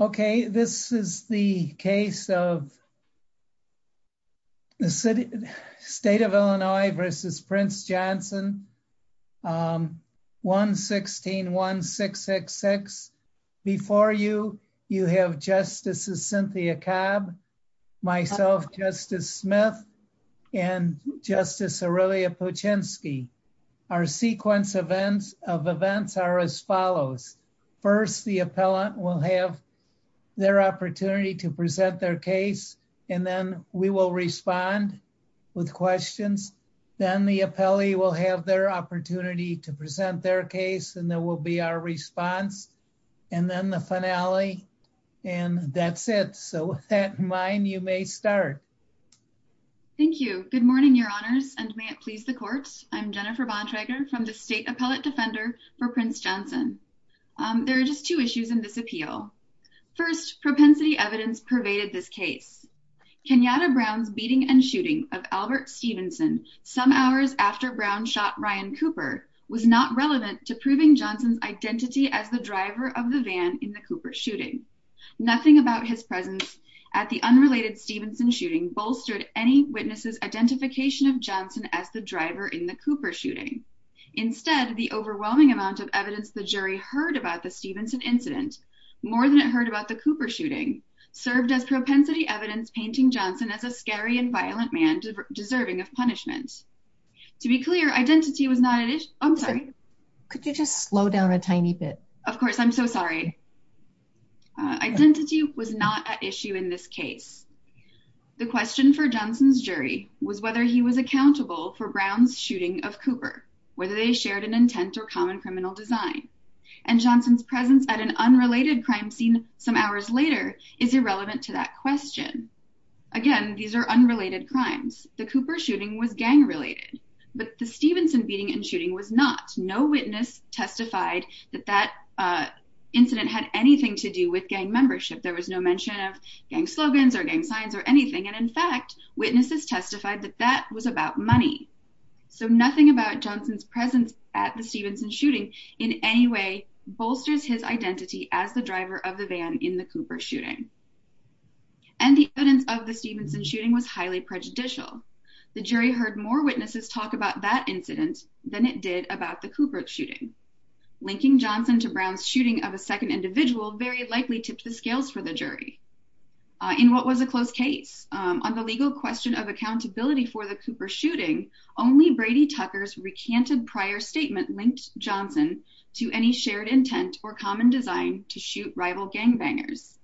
Okay, this is the case of the State of Illinois v. Prince Johnson, 1-16-1666. Before you, you have Justices Cynthia Cabb, myself, Justice Smith, and Justice Aurelia Puchinski. Our sequence of events are as follows. First, the appellant will have their opportunity to present their case, and then we will respond with questions. Then the appellee will have their opportunity to present their case, and that will be our response. And then the finale, and that's it. So with that in mind, you may start. Thank you. Good morning, Your Honors, and may it please the Court. I'm Jennifer Bontrager from the State Appellate Defender for Prince Johnson. There are just two issues in this appeal. First, propensity evidence pervaded this case. Kenyatta Brown's beating and shooting of Albert Stevenson, some hours after Brown shot Ryan Cooper, was not relevant to proving Johnson's identity as the driver of the van in the Cooper shooting. Nothing about his presence at the unrelated Stevenson shooting bolstered any witness's identification of Johnson as the driver in the Cooper shooting. Instead, the overwhelming amount of evidence the jury heard about the Stevenson incident, more than it heard about the Cooper shooting, served as propensity evidence painting Johnson as a scary and violent man deserving of punishment. To be clear, identity was not an issue. Could you just slow down a tiny bit? Of course, I'm so sorry. Identity was not an issue in this case. The question for Johnson's jury was whether he was accountable for Brown's shooting of Cooper, whether they shared an intent or common criminal design. And Johnson's presence at an unrelated crime scene some hours later is irrelevant to that question. Again, these are unrelated crimes. The Cooper shooting was gang related, but the Stevenson beating and shooting was not. No witness testified that that incident had anything to do with gang membership. There was no mention of gang slogans or gang signs or anything. And in fact, witnesses testified that that was about money. So nothing about Johnson's presence at the Stevenson shooting in any way bolsters his identity as the driver of the van in the Cooper shooting. And the evidence of the Stevenson shooting was highly prejudicial. The jury heard more witnesses talk about that incident than it did about the Cooper shooting. Linking Johnson to Brown's shooting of a second individual very likely tipped the scales for the jury. In what was a close case on the legal question of accountability for the Cooper shooting, only Brady Tucker's recanted prior statement linked Johnson to any shared intent or common design to shoot rival gangbangers.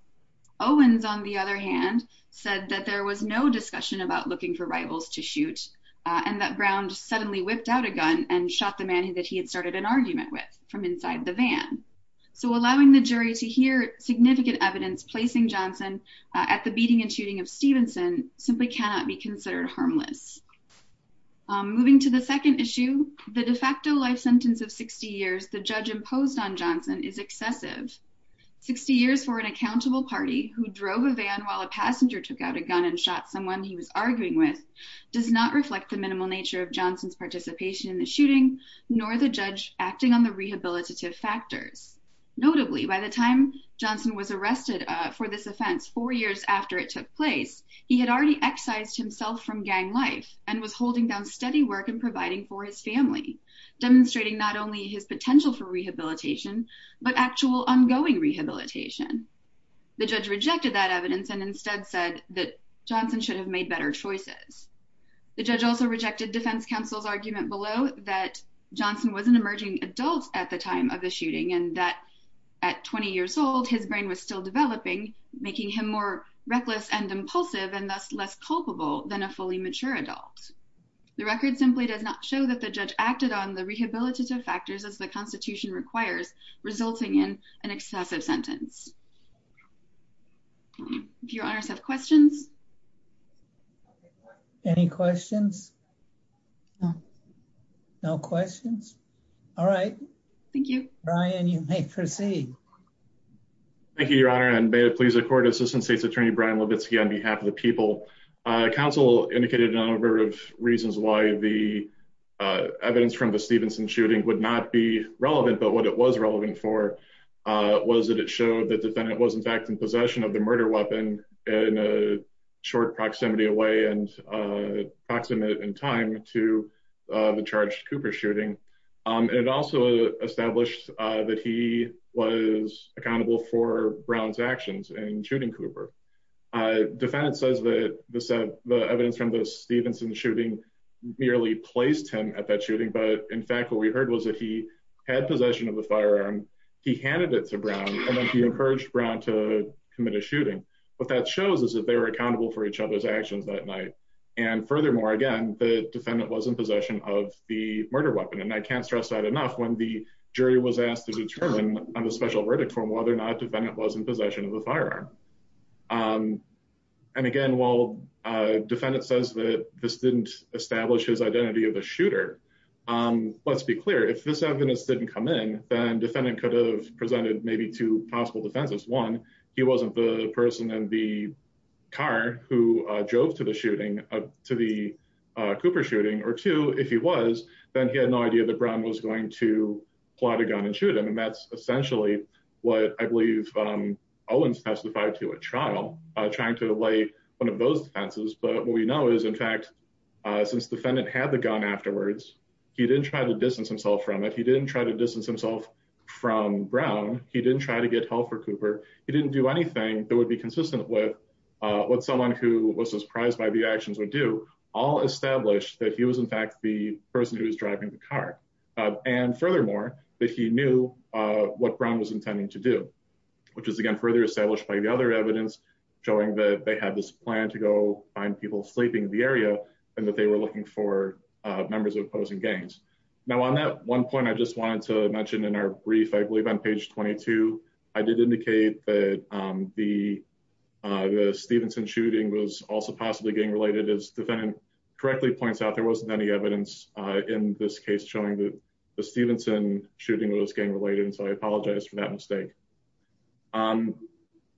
Owens, on the other hand, said that there was no discussion about looking for rivals to shoot, and that Brown suddenly whipped out a gun and shot the man that he had started an argument with from inside the van. So allowing the jury to hear significant evidence placing Johnson at the beating and shooting of Stevenson simply cannot be considered harmless. Moving to the second issue, the de facto life sentence of 60 years the judge imposed on Johnson is excessive. 60 years for an accountable party who drove a van while a passenger took out a gun and shot someone he was arguing with does not reflect the minimal nature of Johnson's participation in the shooting, nor the judge acting on the rehabilitative factors. Notably, by the time Johnson was arrested for this offense, four years after it took place, he had already excised himself from gang life and was holding down steady work and providing for his family, demonstrating not only his potential for rehabilitation, but actual ongoing rehabilitation. The judge rejected that evidence and instead said that Johnson should have made better choices. The judge also rejected defense counsel's argument below that Johnson was an emerging adult at the time of the shooting and that at 20 years old, his brain was still developing, making him more reckless and impulsive and thus less culpable than a fully mature adult. The record simply does not show that the judge acted on the rehabilitative factors as the Constitution requires, resulting in an excessive sentence. Do you have questions? Any questions? No questions. All right. Thank you. Brian, you may proceed. Thank you, Your Honor. And may it please the court. Assistant State's Attorney Brian Levitsky on behalf of the people. Counsel indicated a number of reasons why the evidence from the Stevenson shooting would not be relevant. But what it was relevant for was that it showed that the defendant was, in fact, in possession of the murder weapon in a short proximity away and approximate in time to the charged Cooper shooting. It also established that he was accountable for Brown's actions in shooting Cooper. Defendant says that the evidence from the Stevenson shooting merely placed him at that shooting. But in fact, what we heard was that he had possession of the firearm. He handed it to Brown and then he encouraged Brown to commit a shooting. What that shows is that they were accountable for each other's actions that night. And furthermore, again, the defendant was in possession of the murder weapon. And I can't stress that enough. When the jury was asked to determine on a special verdict from whether or not the defendant was in possession of the firearm. And again, while a defendant says that this didn't establish his identity of a shooter. Let's be clear. If this evidence didn't come in, then defendant could have presented maybe two possible defenses. One, he wasn't the person in the car who drove to the shooting, to the Cooper shooting. Or two, if he was, then he had no idea that Brown was going to pull out a gun and shoot him. And that's essentially what I believe Owens testified to at trial, trying to lay one of those defenses. But what we know is, in fact, since defendant had the gun afterwards, he didn't try to distance himself from it. Or he didn't do anything that would be consistent with what someone who was surprised by the actions would do. All established that he was, in fact, the person who was driving the car. And furthermore, that he knew what Brown was intending to do, which is, again, further established by the other evidence, showing that they had this plan to go find people sleeping in the area and that they were looking for members of opposing gangs. Now, on that one point, I just wanted to mention in our brief, I believe on page 22, I did indicate that the Stevenson shooting was also possibly gang related. As defendant correctly points out, there wasn't any evidence in this case showing that the Stevenson shooting was gang related. And so I apologize for that mistake.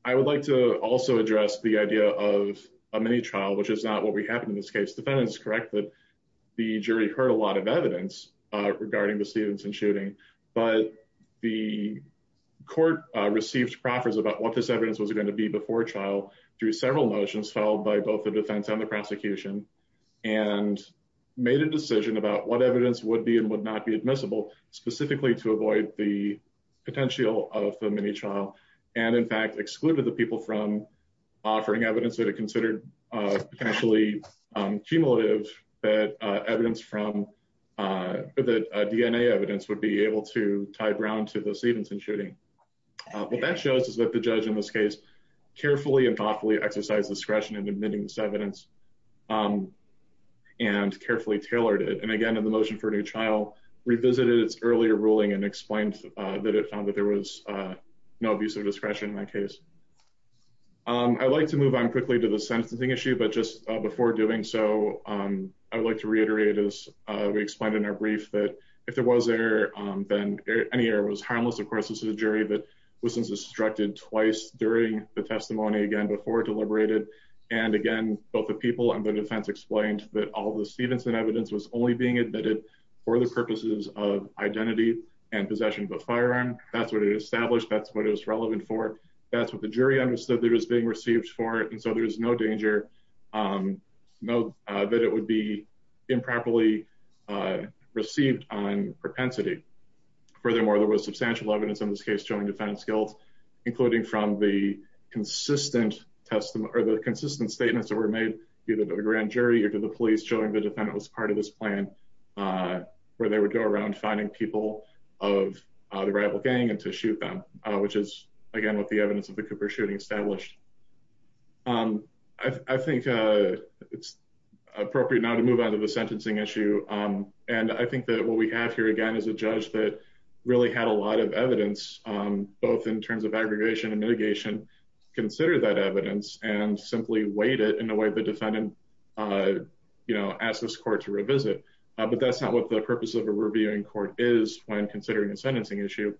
I would like to also address the idea of a mini trial, which is not what we have in this case. Defendant is correct that the jury heard a lot of evidence regarding the Stevenson shooting, but the court received proffers about what this evidence was going to be before trial through several motions, followed by both the defense and the prosecution and made a decision about what evidence would be and would not be admissible, specifically to avoid the potential of a mini trial. And in fact, excluded the people from offering evidence that it considered potentially cumulative, that evidence from the DNA evidence would be able to tie Brown to the Stevenson shooting. What that shows is that the judge in this case carefully and thoughtfully exercised discretion in admitting this evidence and carefully tailored it. And again, in the motion for a new trial, revisited its earlier ruling and explained that it found that there was no abuse of discretion in that case. I'd like to move on quickly to the sentencing issue, but just before doing so, I would like to reiterate as we explained in our brief that if there was error, then any error was harmless. Of course, this is a jury that was instructed twice during the testimony again before deliberated. And again, both the people and the defense explained that all the Stevenson evidence was only being admitted for the purposes of identity and possession of a firearm. That's what it established. That's what it was relevant for. That's what the jury understood there was being received for. And so there is no danger that it would be improperly received on propensity. Furthermore, there was substantial evidence in this case showing defense guilt, including from the consistent testimony or the consistent statements that were made, either to the grand jury or to the police showing the defendant was part of this plan where they would go around finding people of the rival gang and to shoot them, which is, again, what the evidence of the Cooper shooting established. I think it's appropriate now to move on to the sentencing issue. And I think that what we have here, again, is a judge that really had a lot of evidence, both in terms of aggregation and mitigation, consider that evidence and simply wait it in the way the defendant asked this court to revisit. But that's not what the purpose of a reviewing court is when considering a sentencing issue.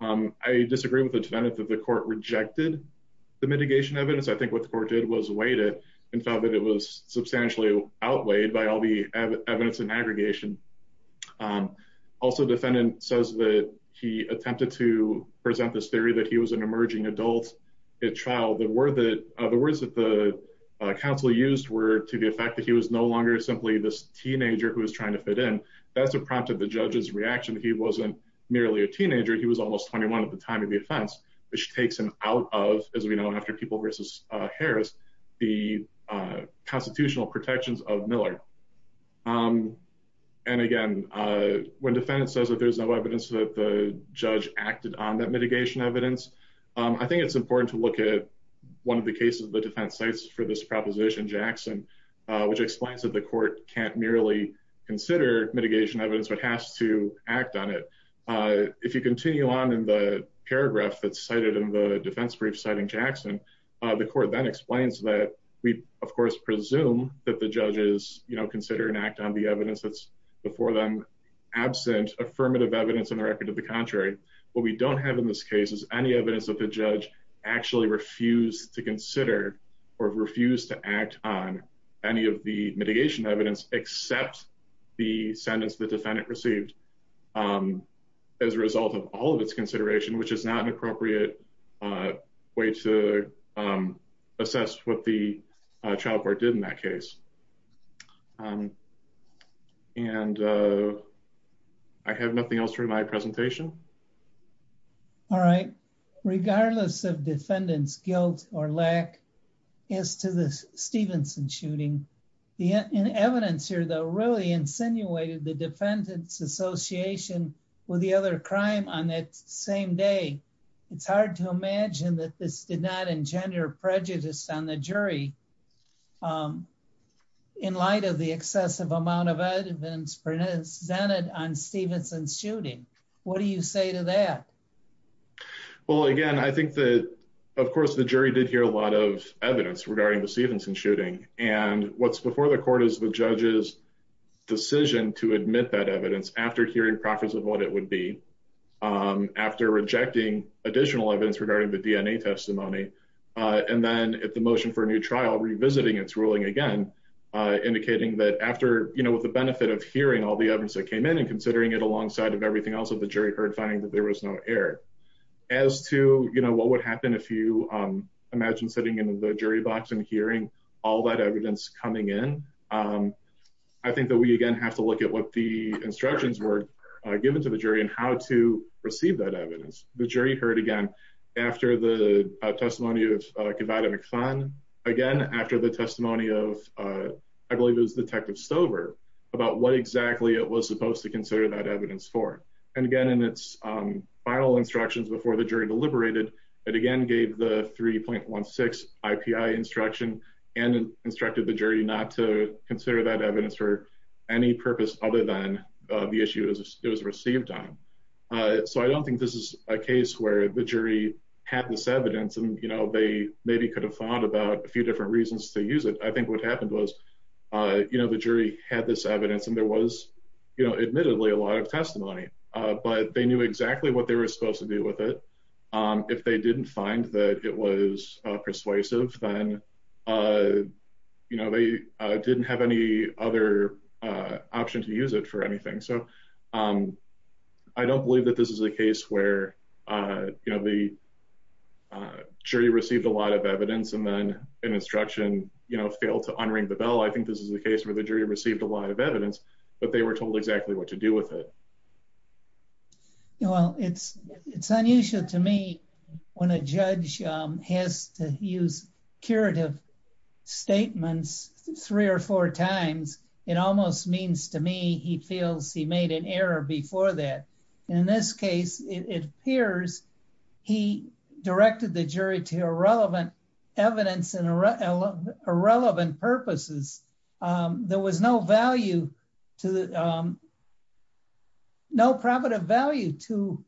I disagree with the defendant that the court rejected the mitigation evidence. I think what the court did was wait it and thought that it was substantially outweighed by all the evidence and aggregation. Also, defendant says that he attempted to present this theory that he was an emerging adult at trial. The word that the words that the counsel used were to the effect that he was no longer simply this teenager who was trying to fit in. That's a prompt of the judge's reaction. He wasn't merely a teenager. He was almost 21 at the time of the offense, which takes him out of, as we know, after people versus Harris, the constitutional protections of Miller. And again, when defendants says that there's no evidence that the judge acted on that mitigation evidence, I think it's important to look at one of the cases of the defense sites for this proposition, Jackson, which explains that the court can't merely consider mitigation evidence, but has to act on it. If you continue on in the paragraph that's cited in the defense brief, citing Jackson, the court then explains that we, of course, presume that the judges, you know, consider an act on the evidence that's before them absent affirmative evidence in the record of the contrary. What we don't have in this case is any evidence that the judge actually refused to consider or refused to act on any of the mitigation evidence, except the sentence the defendant received as a result of all of its consideration, which is not an appropriate way to assess what the child court did in that case. And I have nothing else for my presentation. All right. Regardless of defendant's guilt or lack as to the Stevenson shooting, the evidence here, though, really insinuated the defendant's association with the other crime on that same day. It's hard to imagine that this did not engender prejudice on the jury in light of the excessive amount of evidence presented on Stevenson's shooting. What do you say to that? Well, again, I think that, of course, the jury did hear a lot of evidence regarding the Stevenson shooting. And what's before the court is the judge's decision to admit that evidence after hearing profits of what it would be after rejecting additional evidence regarding the DNA testimony. And then at the motion for a new trial, revisiting its ruling again, indicating that after, you know, with the benefit of hearing all the evidence that came in and considering it alongside of everything else of the jury heard, finding that there was no error. As to, you know, what would happen if you imagine sitting in the jury box and hearing all that evidence coming in? I think that we, again, have to look at what the instructions were given to the jury and how to receive that evidence. The jury heard again after the testimony of Gavada McFarn, again, after the testimony of, I believe it was Detective Stover, about what exactly it was supposed to consider that evidence for. And again, in its final instructions before the jury deliberated, it again gave the 3.16 IPI instruction and instructed the jury not to consider that evidence for any purpose other than the issue it was received on. So I don't think this is a case where the jury had this evidence and, you know, they maybe could have thought about a few different reasons to use it. I think what happened was, you know, the jury had this evidence and there was, you know, admittedly a lot of testimony, but they knew exactly what they were supposed to do with it. If they didn't find that it was persuasive, then, you know, they didn't have any other option to use it for anything. So I don't believe that this is a case where, you know, the jury received a lot of evidence and then an instruction, you know, failed to unring the bell. I think this is a case where the jury received a lot of evidence, but they were told exactly what to do with it. Well, it's unusual to me when a judge has to use curative statements three or four times. It almost means to me he feels he made an error before that. In this case, it appears he directed the jury to irrelevant evidence and irrelevant purposes. There was no value to the, no probative value to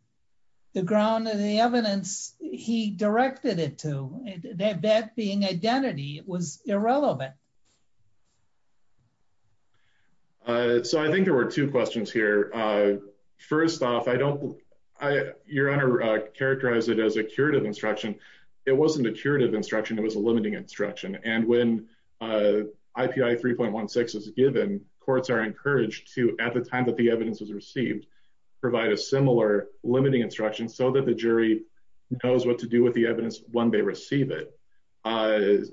the ground and the evidence he directed it to. That being identity, it was irrelevant. So I think there were two questions here. First off, I don't, Your Honor characterized it as a curative instruction. It wasn't a curative instruction. It was a limiting instruction. And when IPI 3.16 is given, courts are encouraged to, at the time that the evidence was received, provide a similar limiting instruction so that the jury knows what to do with the evidence when they receive it.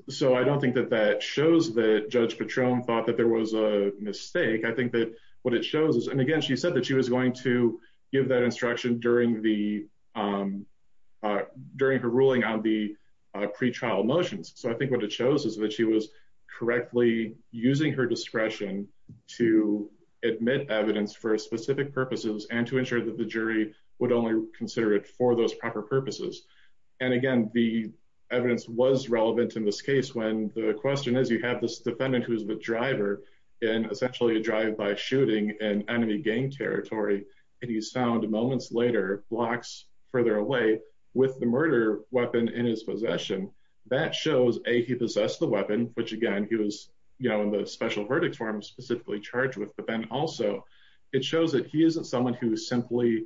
So I don't think that that shows that Judge Patrone thought that there was a mistake. I think that what it shows is, and again, she said that she was going to give that instruction during the, during her ruling on the pretrial motions. So I think what it shows is that she was correctly using her discretion to admit evidence for specific purposes and to ensure that the jury would only consider it for those proper purposes. And again, the evidence was relevant in this case when the question is, you have this defendant who is the driver in essentially a drive-by shooting in enemy gang territory, and he's found moments later blocks further away with the murder weapon in his possession. That shows, A, he possessed the weapon, which again, he was, you know, in the special verdict form specifically charged with, but then also it shows that he isn't someone who simply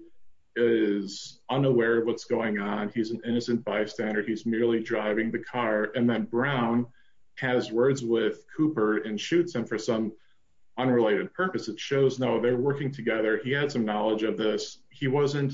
is unaware of what's going on. He's an innocent bystander. He's merely driving the car. And then Brown has words with Cooper and shoots him for some unrelated purpose. It shows, no, they're working together. He had some knowledge of this. He wasn't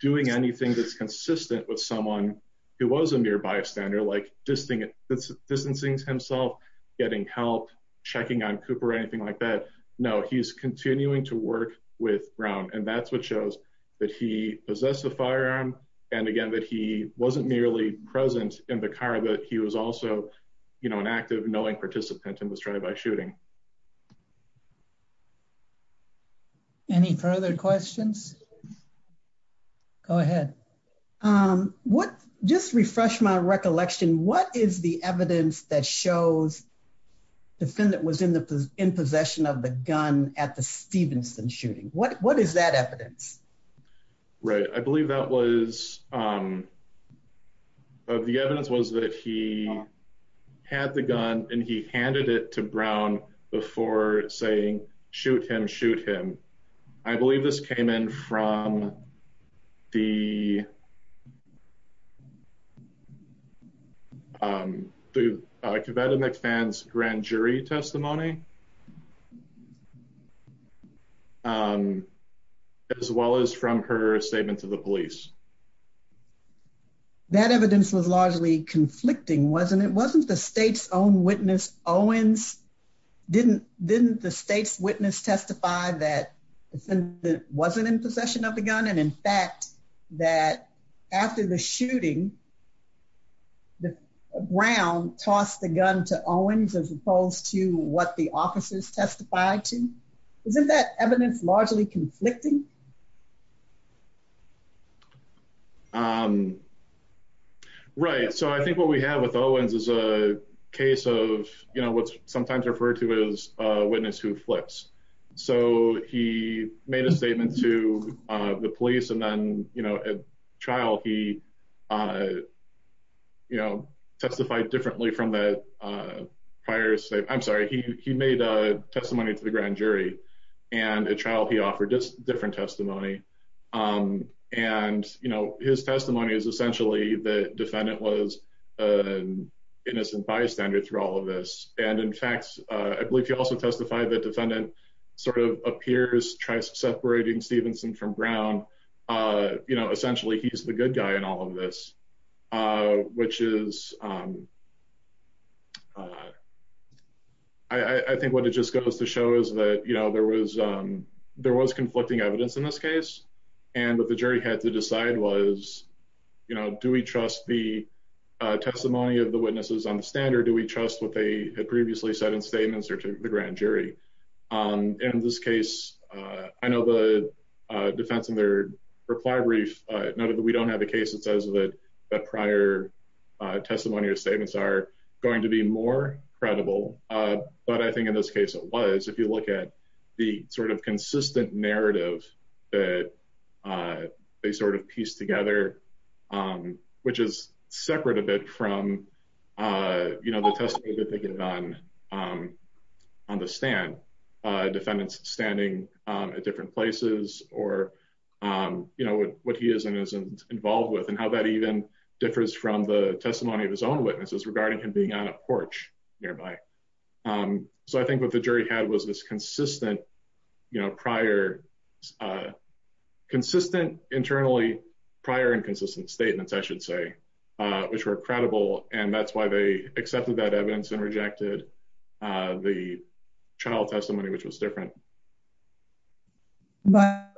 doing anything that's consistent with someone who was a mere bystander, like distancing himself, getting help, checking on Cooper, anything like that. No, he's continuing to work with Brown. And that's what shows that he possessed the firearm. And again, that he wasn't merely present in the car, but he was also, you know, an active, knowing participant in the drive-by shooting. Any further questions? Go ahead. Just refresh my recollection. What is the evidence that shows the defendant was in possession of the gun at the Stevenson shooting? What is that evidence? Right. I believe that was, the evidence was that he had the gun and he handed it to Brown before saying, shoot him, shoot him. I believe this came in from the statement to the police. That evidence was largely conflicting, wasn't it? Wasn't the state's own witness Owens? Didn't the state's witness testify that the defendant wasn't in possession of the gun? And in fact, that after the shooting, Brown tossed the gun to Owens as opposed to what the officers testified to? Isn't that evidence largely conflicting? Right. So I think what we have with Owens is a case of, you know, what's sometimes referred to as a witness who flips. So he made a statement to the police. And then, you know, at trial, he, you know, testified differently from the prior state. I'm sorry, he made a testimony to the grand jury. And at trial, he offered just different testimony. And, you know, his testimony is essentially the defendant was an innocent bystander through all of this. And in fact, I believe he also testified that defendant sort of appears, tries separating Stevenson from Brown. You know, essentially, he's the good guy in all of this, which is I think what it just goes to show is that, you know, there was there was conflicting evidence in this case. And what the jury had to decide was, you know, do we trust the testimony of the witnesses on the standard? Do we trust what they had previously said in statements or to the grand jury? In this case, I know the defense in their reply brief noted that we don't have a case that says that prior testimony or statements are going to be more credible. But I think in this case, it was if you look at the sort of consistent narrative that they sort of piece together, which is separate a bit from, you know, the testimony that they get done on the stand, defendants standing at different places or, you know, what he is and isn't involved with and how that even differs from the testimony of his own witnesses regarding him being on a porch nearby. So I think what the jury had was this consistent, you know, prior, consistent internally prior and consistent statements, I should say, which were credible. And that's why they accepted that evidence and rejected the trial testimony, which was different. But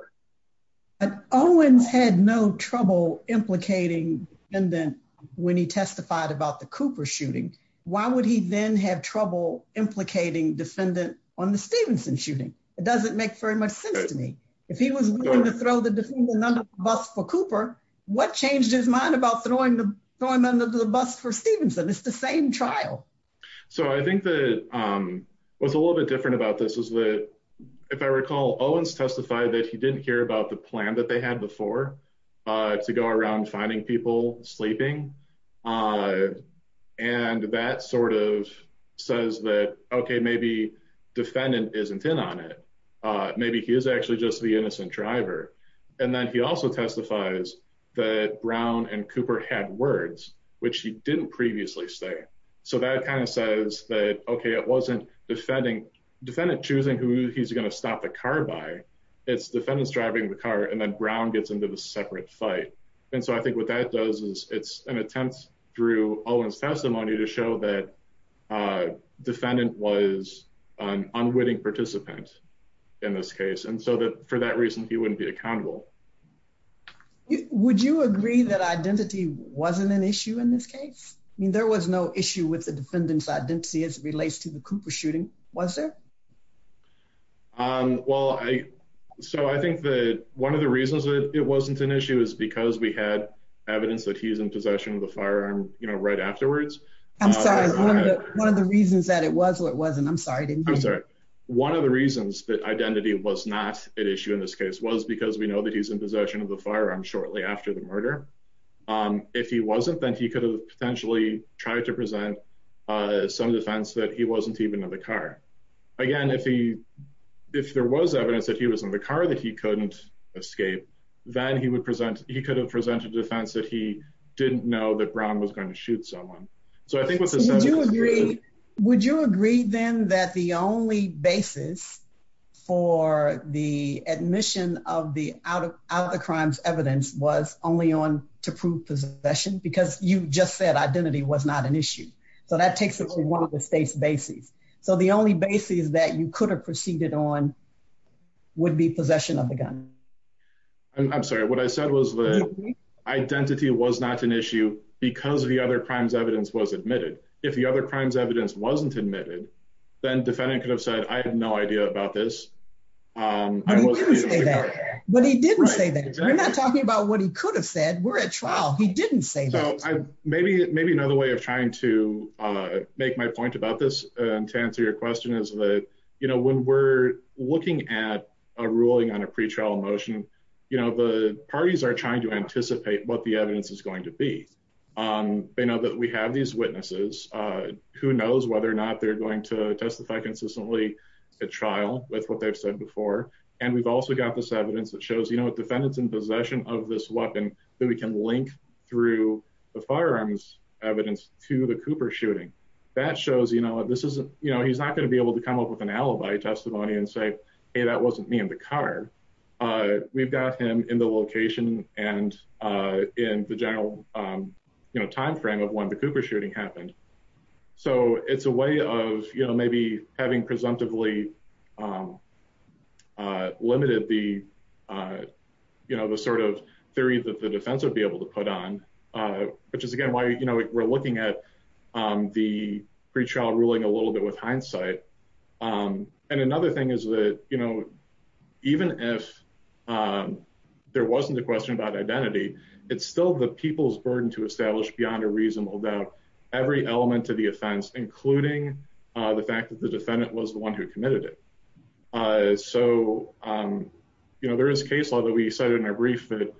Owens had no trouble implicating, and then when he testified about the Cooper shooting, why would he then have trouble implicating defendant on the Stevenson shooting? It doesn't make very much sense to me. If he was willing to throw the defendant under the bus for Cooper, what changed his mind about throwing him under the bus for Stevenson? It's the same trial. So I think that what's a little bit different about this is that, if I recall, Owens testified that he didn't hear about the plan that they had before to go around finding people sleeping. And that sort of says that, okay, maybe defendant isn't in on it. Maybe he is actually just the innocent driver. And then he also testifies that Brown and Cooper had words, which he didn't previously say. So that kind of says that, okay, it wasn't defendant choosing who he's going to stop the car by, it's defendants driving the car and then Brown gets into the separate fight. And so I think what that does is it's an attempt through Owens testimony to show that defendant was an unwitting participant in this case. And so that for that reason, he wouldn't be accountable. Would you agree that identity wasn't an issue in this case? I mean, there was no issue with the defendant's identity as it relates to the Cooper shooting, was there? Well, so I think that one of the reasons that it wasn't an issue is because we had evidence that he's in possession of the firearm, you know, right afterwards. I'm sorry, one of the reasons that it was or it wasn't, I'm sorry. One of the reasons that identity was not an issue in this case was because we know that he's in possession of the firearm shortly after the murder. If he wasn't, then he could have potentially tried to present some defense that he wasn't even in the car. Again, if there was evidence that he was in the car that he couldn't escape, then he could have presented a defense that he didn't know that Brown was going to shoot someone. Would you agree, then, that the only basis for the admission of the out-of-crimes evidence was only on to prove possession? Because you just said identity was not an issue. So that takes away one of the base bases. So the only basis that you could have proceeded on would be possession of the gun. I'm sorry, what I said was that identity was not an issue because the out-of-crimes evidence was admitted. If the out-of-crimes evidence wasn't admitted, then the defendant could have said, I have no idea about this. But he didn't say that. We're not talking about what he could have said. We're at trial. He didn't say that. Maybe another way of trying to make my point about this, to answer your question, is that when we're looking at a ruling on a pretrial motion, the parties are trying to anticipate what the evidence is going to be. They know that we have these witnesses. Who knows whether or not they're going to testify consistently at trial with what they've said before. And we've also got this evidence that shows the defendants in possession of this weapon that we can link through the firearms evidence to the Cooper shooting. That shows he's not going to be able to come up with an alibi testimony and say, hey, that wasn't me in the car. We've got him in the location and in the general time frame of when the Cooper shooting happened. So it's a way of maybe having presumptively limited the sort of theory that the defense would be able to put on, which is again why we're looking at the pretrial ruling a little bit with hindsight. And another thing is that, you know, even if there wasn't a question about identity, it's still the people's burden to establish beyond a reasonable doubt every element of the offense, including the fact that the defendant was the one who committed it. So, you know, there is case law that we cited in our brief that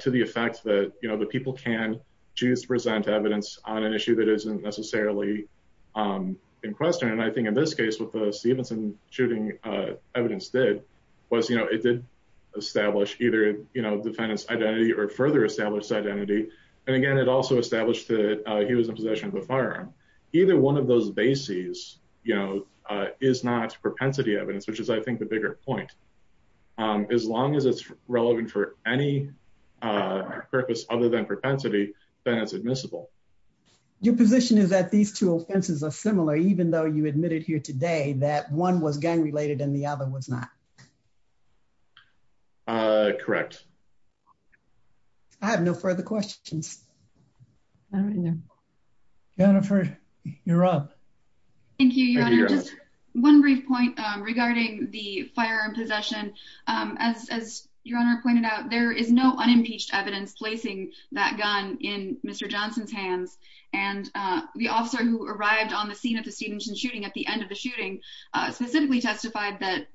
to the effect that, you know, the people can choose to present evidence on an issue that isn't necessarily in question. And I think in this case with the Stevenson shooting evidence did was, you know, it did establish either, you know, defendants identity or further established identity. And again, it also established that he was in possession of a firearm. Either one of those bases, you know, is not propensity evidence, which is I think the bigger point. As long as it's relevant for any purpose other than propensity, then it's admissible. Your position is that these two offenses are similar, even though you admitted here today that one was gang related and the other was not. Correct. I have no further questions. Jennifer, you're up. Thank you, Your Honor. Just one brief point regarding the firearm possession. As Your Honor pointed out, there is no unimpeached evidence placing that gun in Mr. Johnson's hands. And the officer who arrived on the scene of the Stevenson shooting at the end of the shooting specifically testified that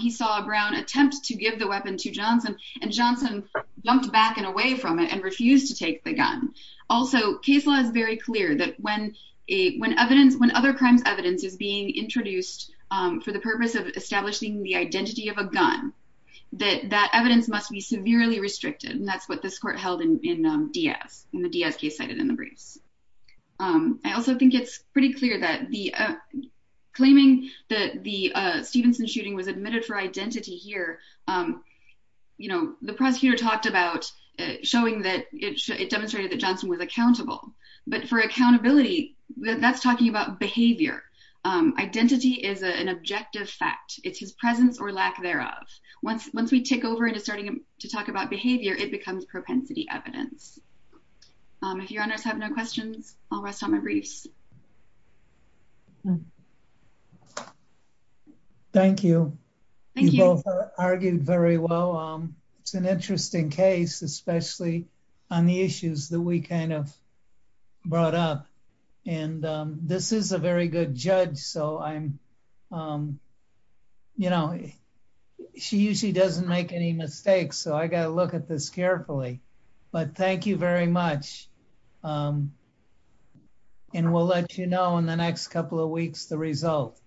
he saw Brown attempt to give the weapon to Johnson and Johnson jumped back and away from it and refused to take the gun. Also, case law is very clear that when other crimes evidence is being introduced for the purpose of establishing the identity of a gun, that that evidence must be severely restricted. And that's what this court held in Diaz, in the Diaz case cited in the briefs. I also think it's pretty clear that the claiming that the Stevenson shooting was admitted for identity here. You know, the prosecutor talked about showing that it demonstrated that Johnson was accountable, but for accountability, that's talking about behavior. Identity is an objective fact. It's his presence or lack thereof. Once we take over into starting to talk about behavior, it becomes propensity evidence. If Your Honors have no questions, I'll rest on my briefs. Thank you. Thank you. You both argued very well. It's an interesting case, especially on the issues that we kind of brought up. And this is a very good judge. So I'm, you know, she usually doesn't make any mistakes. So I got to look at this carefully. But thank you very much. And we'll let you know in the next couple of weeks the result.